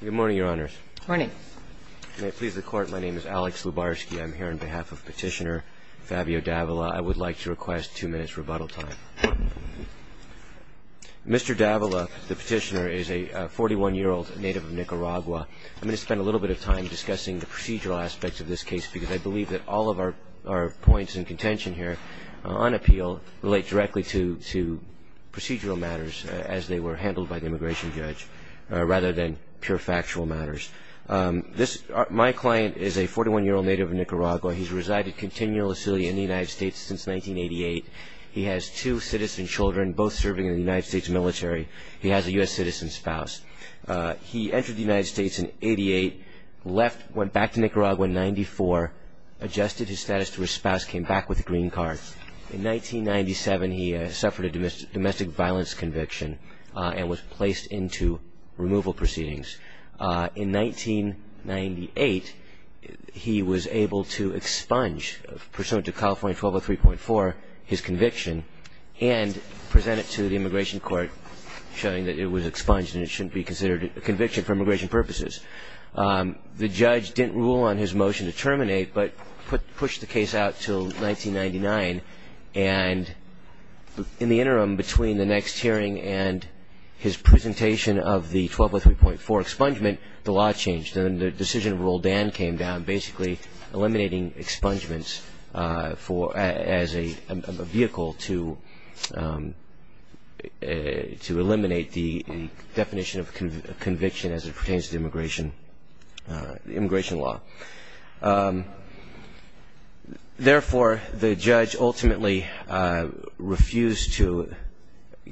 Good morning, Your Honors. Good morning. May it please the Court, my name is Alex Lubarsky. I'm here on behalf of Petitioner Fabio Davila. I would like to request two minutes rebuttal time. Mr. Davila, the petitioner, is a 41-year-old native of Nicaragua. I'm going to spend a little bit of time discussing the procedural aspects of this case because I believe that all of our points in contention here on appeal relate directly to procedural matters as they were handled by the immigration judge rather than pure factual matters. My client is a 41-year-old native of Nicaragua. He's resided continuously in the United States since 1988. He has two citizen children, both serving in the United States military. He has a U.S. citizen spouse. He entered the United States in 88, left, went back to Nicaragua in 94, adjusted his status to his spouse, came back with a green card. In 1997, he suffered a domestic violence conviction and was placed into removal proceedings. In 1998, he was able to expunge, pursuant to California 1203.4, his conviction and present it to the immigration court, showing that it was expunged and it shouldn't be considered a conviction for immigration purposes. The judge didn't rule on his motion to terminate but pushed the case out until 1999. And in the interim, between the next hearing and his presentation of the 1203.4 expungement, the law changed and the decision to rule Dan came down, basically eliminating expungements as a vehicle to eliminate the definition of conviction as it pertains to immigration law. Therefore, the judge ultimately refused to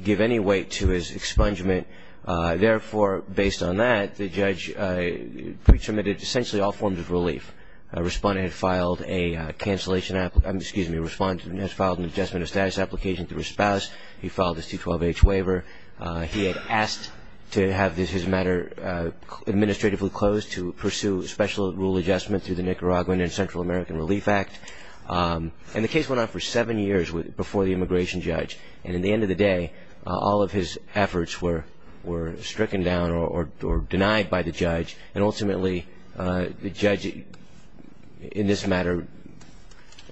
give any weight to his expungement. Therefore, based on that, the judge pre-terminated essentially all forms of relief. A respondent had filed an adjustment of status application to his spouse. He filed his 212H waiver. He had asked to have his matter administratively closed to pursue special rule adjustment through the Nicaraguan and Central American Relief Act. And the case went on for seven years before the immigration judge. And at the end of the day, all of his efforts were stricken down or denied by the judge. And ultimately, the judge, in this matter,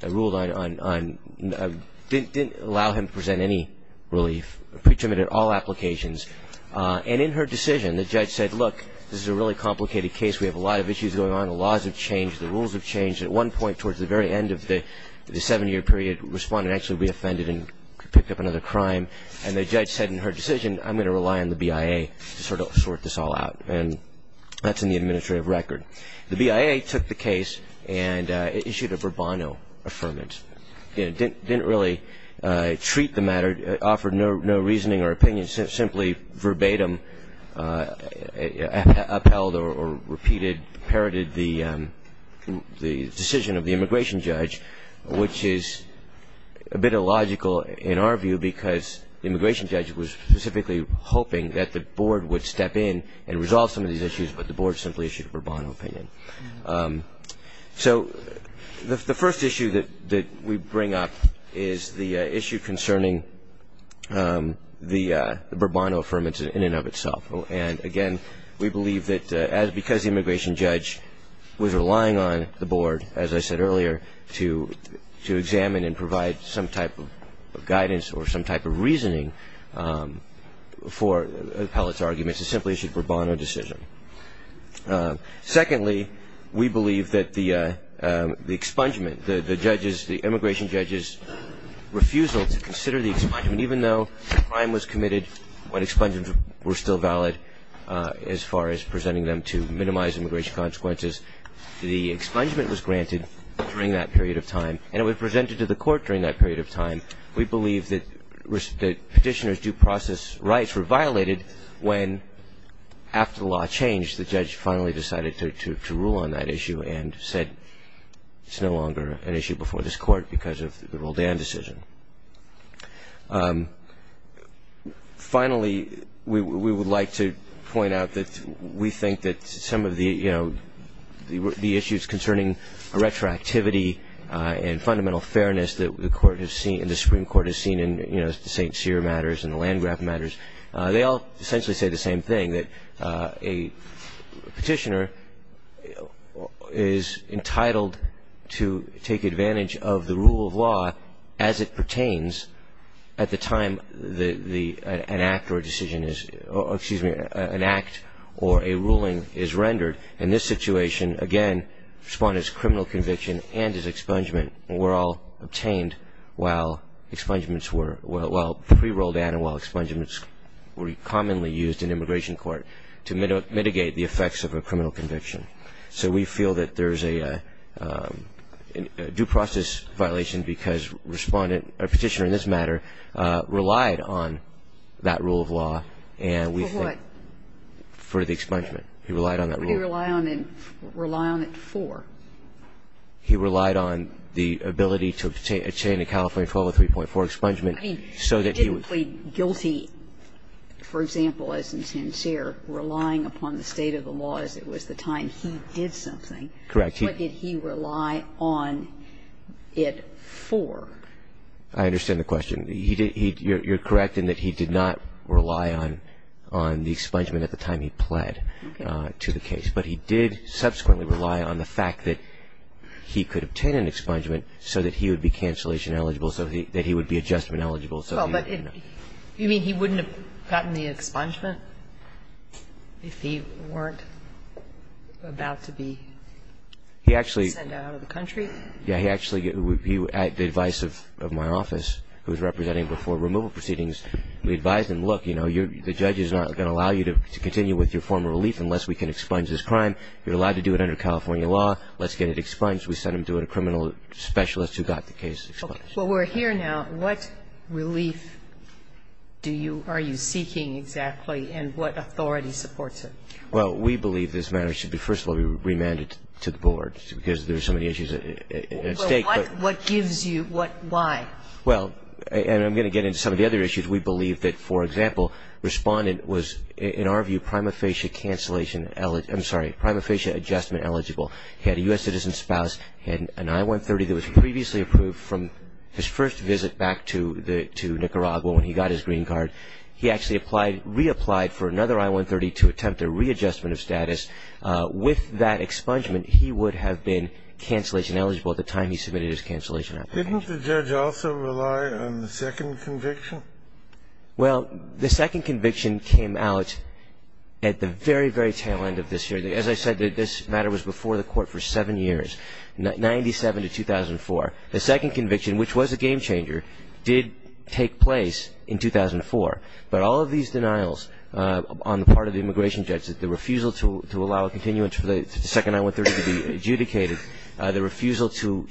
ruled on, didn't allow him to present any relief. Pre-terminated all applications. And in her decision, the judge said, look, this is a really complicated case. We have a lot of issues going on. The laws have changed. The rules have changed. At one point, towards the very end of the seven-year period, a respondent actually would be offended and could pick up another crime. And the judge said in her decision, I'm going to rely on the BIA to sort this all out. And that's in the administrative record. The BIA took the case and issued a verbano affirmance. It didn't really treat the matter, offered no reasoning or opinion, simply verbatim upheld or repeated, parroted the decision of the immigration judge, which is a bit illogical in our view because the immigration judge was specifically hoping that the board would step in and resolve some of these issues, but the board simply issued a verbano opinion. So the first issue that we bring up is the issue concerning the verbano affirmance in and of itself. And, again, we believe that because the immigration judge was relying on the board, as I said earlier, to examine and provide some type of guidance or some type of reasoning for appellate's arguments, it simply issued verbano decision. Secondly, we believe that the expungement, the immigration judge's refusal to consider the expungement, even though the crime was committed, when expungements were still valid as far as presenting them to minimize immigration consequences, the expungement was granted during that period of time. And it was presented to the court during that period of time. We believe that petitioner's due process rights were violated when, after the law changed, the judge finally decided to rule on that issue and said it's no longer an issue before this court because of the Roldan decision. Finally, we would like to point out that we think that some of the issues concerning retroactivity and fundamental fairness that the Supreme Court has seen in the St. Cyr matters and the Landgraf matters, they all essentially say the same thing, that a petitioner is entitled to take advantage of the rule of law as it pertains at the time an act or a decision is ‑‑ excuse me, an act or a ruling is rendered. In this situation, again, Respondent's criminal conviction and his expungement were all obtained while pre‑Roldan and while expungements were commonly used in immigration court to mitigate the effects of a criminal conviction. So we feel that there's a due process violation because Respondent, or petitioner in this matter, relied on that rule of law. For what? For the expungement. He relied on that rule. What did he rely on it for? He relied on the ability to obtain a California 1203.4 expungement so that he would ‑‑ I mean, he didn't plead guilty, for example, as in St. Cyr, relying upon the state of the law as it was the time he did something. Correct. What did he rely on it for? I understand the question. You're correct in that he did not rely on the expungement at the time he pled to the case. But he did subsequently rely on the fact that he could obtain an expungement so that he would be cancellation eligible, so that he would be adjustment eligible. You mean he wouldn't have gotten the expungement if he weren't about to be sent out of the country? Yeah. Actually, the advice of my office, who was representing him before removal proceedings, we advised him, look, you know, the judge is not going to allow you to continue with your form of relief unless we can expunge this crime. You're allowed to do it under California law. Let's get it expunged. We sent him to a criminal specialist who got the case expunged. Okay. Well, we're here now. What relief do you ‑‑ are you seeking exactly, and what authority supports it? Well, we believe this matter should be, first of all, be remanded to the board, because there are so many issues at stake. Well, what gives you ‑‑ why? Well, and I'm going to get into some of the other issues. We believe that, for example, respondent was, in our view, prima facie cancellation ‑‑ I'm sorry, prima facie adjustment eligible. He had a U.S. citizen spouse, had an I-130 that was previously approved from his first visit back to Nicaragua when he got his green card. He actually reapplied for another I-130 to attempt a readjustment of status. With that expungement, he would have been cancellation eligible at the time he submitted his cancellation application. Didn't the judge also rely on the second conviction? Well, the second conviction came out at the very, very tail end of this year. As I said, this matter was before the court for seven years, 97 to 2004. The second conviction, which was a game changer, did take place in 2004. But all of these denials on the part of the immigration judges, the refusal to allow a continuance for the second I-130 to be adjudicated, the refusal to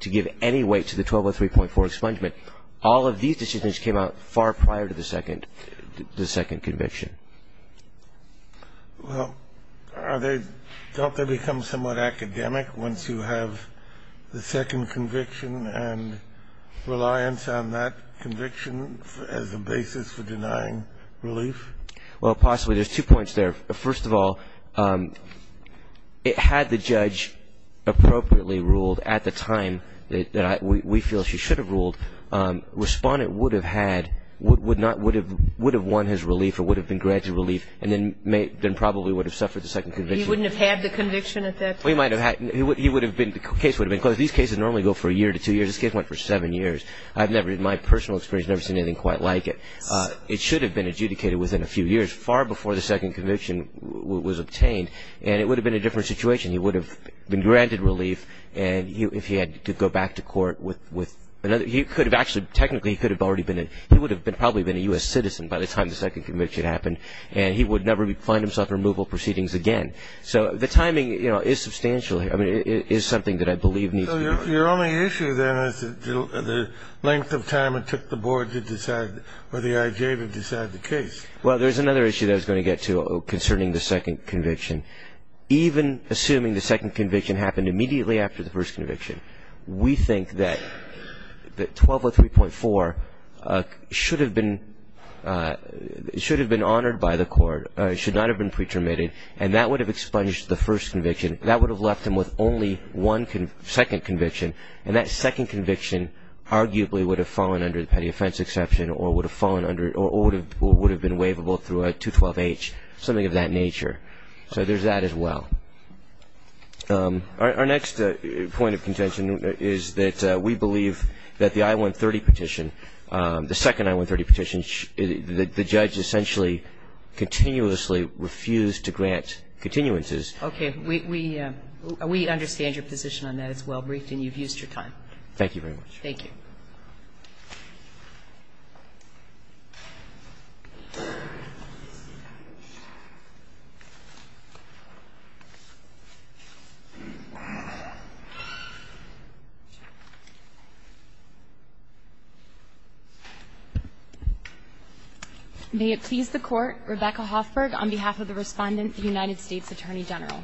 give any weight to the 1203.4 expungement, all of these decisions came out far prior to the second conviction. Well, don't they become somewhat academic once you have the second conviction and reliance on that conviction as a basis for denying relief? Well, possibly. There's two points there. First of all, had the judge appropriately ruled at the time that we feel she should have ruled, Respondent would have had, would not have, would have won his relief or would have been granted relief and then probably would have suffered the second conviction. He wouldn't have had the conviction at that time? Well, he might have had. He would have been, the case would have been closed. These cases normally go for a year to two years. This case went for seven years. I've never, in my personal experience, never seen anything quite like it. It should have been adjudicated within a few years, far before the second conviction was obtained, and it would have been a different situation. He would have been granted relief and if he had to go back to court with another, he could have actually, technically he could have already been, he would have probably been a U.S. citizen by the time the second conviction happened and he would never find himself in removal proceedings again. So the timing is substantial. I mean, it is something that I believe needs to be. Your only issue then is the length of time it took the board to decide, or the I.J. to decide the case. Well, there's another issue that I was going to get to concerning the second conviction. Even assuming the second conviction happened immediately after the first conviction, we think that 1203.4 should have been, should have been honored by the court, should not have been pre-terminated, and that would have expunged the first conviction. That would have left him with only one second conviction, and that second conviction arguably would have fallen under the petty offense exception or would have fallen under, or would have been waivable through a 212H, something of that nature. So there's that as well. Our next point of contention is that we believe that the I-130 petition, the second I-130 petition, the judge essentially continuously refused to grant continuances. Okay. We understand your position on that. It's well briefed and you've used your time. Thank you very much. May it please the Court. Rebecca Hoffberg on behalf of the Respondent, the United States Attorney General.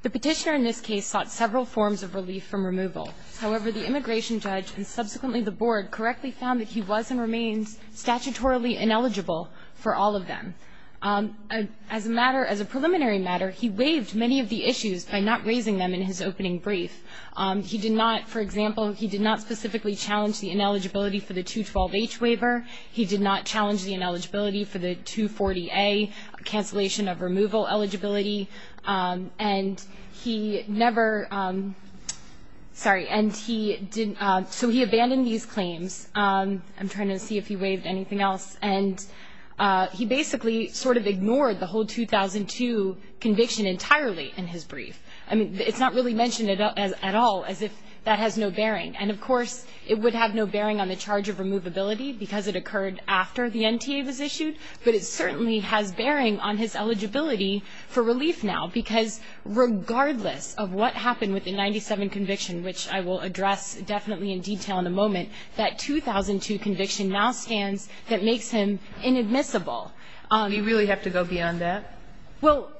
The Petitioner in this case sought several forms of relief from removal. However, the immigration judge and subsequently the board correctly found that he was and remains statutorily ineligible for all of them. As a matter, as a preliminary matter, he waived many of the issues by not raising them in his opening brief. He did not, for example, he did not specifically challenge the ineligibility for the 212H waiver. He did not challenge the ineligibility for the 240A cancellation of removal eligibility. And he never, sorry, and he didn't, so he abandoned these claims. I'm trying to see if he waived anything else. And he basically sort of ignored the whole 2002 conviction entirely in his brief. I mean, it's not really mentioned at all as if that has no bearing. And, of course, it would have no bearing on the charge of removability because it occurred after the NTA was issued. But it certainly has bearing on his eligibility for relief now because regardless of what happened with the 97 conviction, which I will address definitely in detail in a moment, that 2002 conviction now stands that makes him inadmissible. You really have to go beyond that? Well,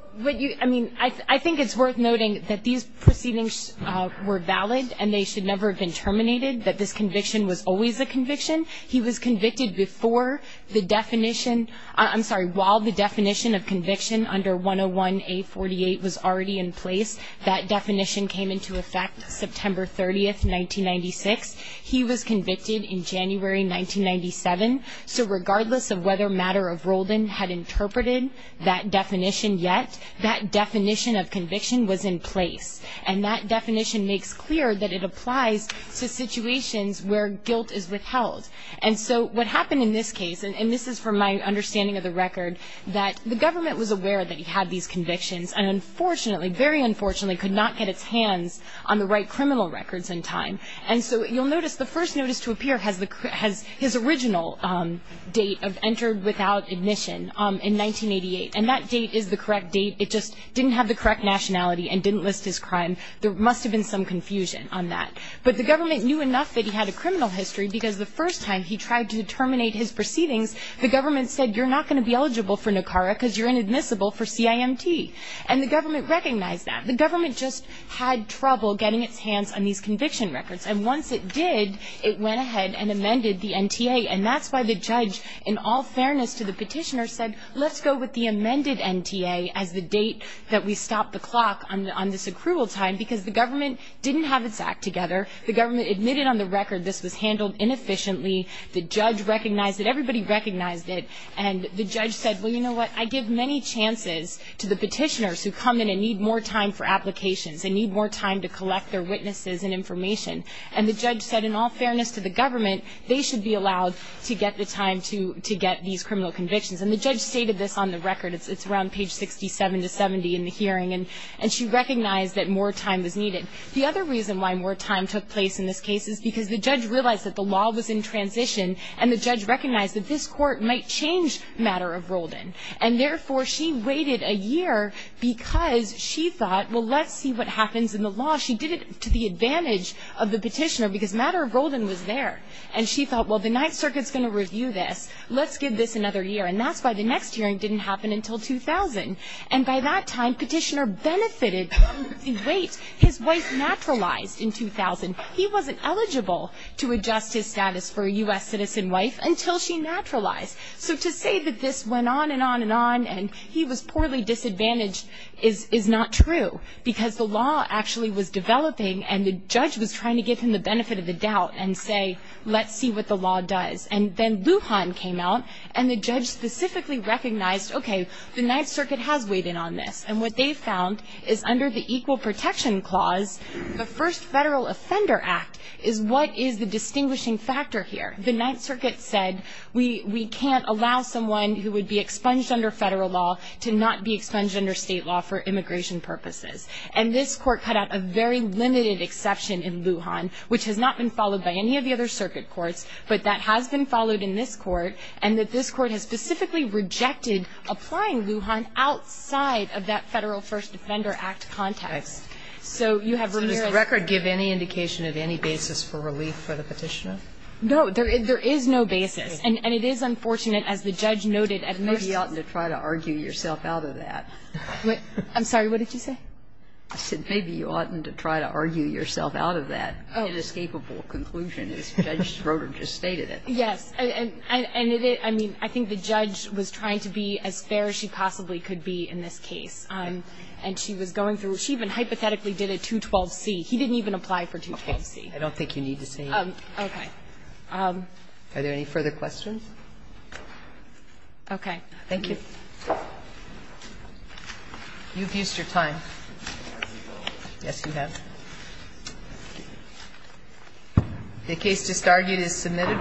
I mean, I think it's worth noting that these proceedings were valid and they should never have been terminated, that this conviction was always a conviction. He was convicted before the definition, I'm sorry, while the definition of conviction under 101A48 was already in place. That definition came into effect September 30th, 1996. He was convicted in January 1997. So regardless of whether Matter of Roldan had interpreted that definition yet, that definition of conviction was in place. And that definition makes clear that it applies to situations where guilt is withheld. And so what happened in this case, and this is from my understanding of the record, that the government was aware that he had these convictions and unfortunately, very unfortunately, could not get its hands on the right criminal records in time. And so you'll notice the first notice to appear has his original date of entered without admission in 1988. And that date is the correct date. It just didn't have the correct nationality and didn't list his crime. There must have been some confusion on that. But the government knew enough that he had a criminal history because the first time he tried to terminate his proceedings, the government said you're not going to be eligible for NACARA because you're inadmissible for CIMT. And the government recognized that. The government just had trouble getting its hands on these conviction records. And once it did, it went ahead and amended the NTA. And that's why the judge, in all fairness to the petitioner, said let's go with the amended NTA as the date that we stop the clock on this accrual time because the government didn't have its act together. The government admitted on the record this was handled inefficiently. The judge recognized it. Everybody recognized it. And the judge said, well, you know what? I give many chances to the petitioners who come in and need more time for applications and need more time to collect their witnesses and information. And the judge said, in all fairness to the government, they should be allowed to get the time to get these criminal convictions. And the judge stated this on the record. It's around page 67 to 70 in the hearing. And she recognized that more time was needed. The other reason why more time took place in this case is because the judge realized that the law was in transition and the judge recognized that this court might change the matter of Roldan. And, therefore, she waited a year because she thought, well, let's see what happens in the law. She did it to the advantage of the petitioner because the matter of Roldan was there. And she thought, well, the Ninth Circuit is going to review this. Let's give this another year. And that's why the next hearing didn't happen until 2000. And by that time, the petitioner benefited from the wait. His wife naturalized in 2000. He wasn't eligible to adjust his status for a U.S. citizen wife until she naturalized. So to say that this went on and on and on and he was poorly disadvantaged is not true because the law actually was developing and the judge was trying to give him the benefit of the doubt and say, let's see what the law does. And then Lujan came out and the judge specifically recognized, okay, the Ninth Circuit has weighed in on this. And what they found is under the Equal Protection Clause, the first Federal Offender Act is what is the distinguishing factor here. The Ninth Circuit said we can't allow someone who would be expunged under federal law to not be expunged under state law for immigration purposes. And this Court cut out a very limited exception in Lujan, which has not been followed by any of the other circuit courts, but that has been followed in this Court, and that this Court has specifically rejected applying Lujan outside of that Federal First Defender Act context. So you have Ramirez. Kagan. So does the record give any indication of any basis for relief for the petitioner? No. And it is unfortunate, as the judge noted, at first the court said. I don't think you oughtn't to try to argue yourself out of that. I'm sorry. What did you say? I said maybe you oughtn't to try to argue yourself out of that inescapable conclusion, as Judge Schroeder just stated it. Yes. And it is. I mean, I think the judge was trying to be as fair as she possibly could be in this case. And she was going through. She even hypothetically did a 212c. He didn't even apply for 212c. I don't think you need to say that. Okay. Are there any further questions? Okay. Thank you. You've used your time. Yes, you have. The case just argued is submitted.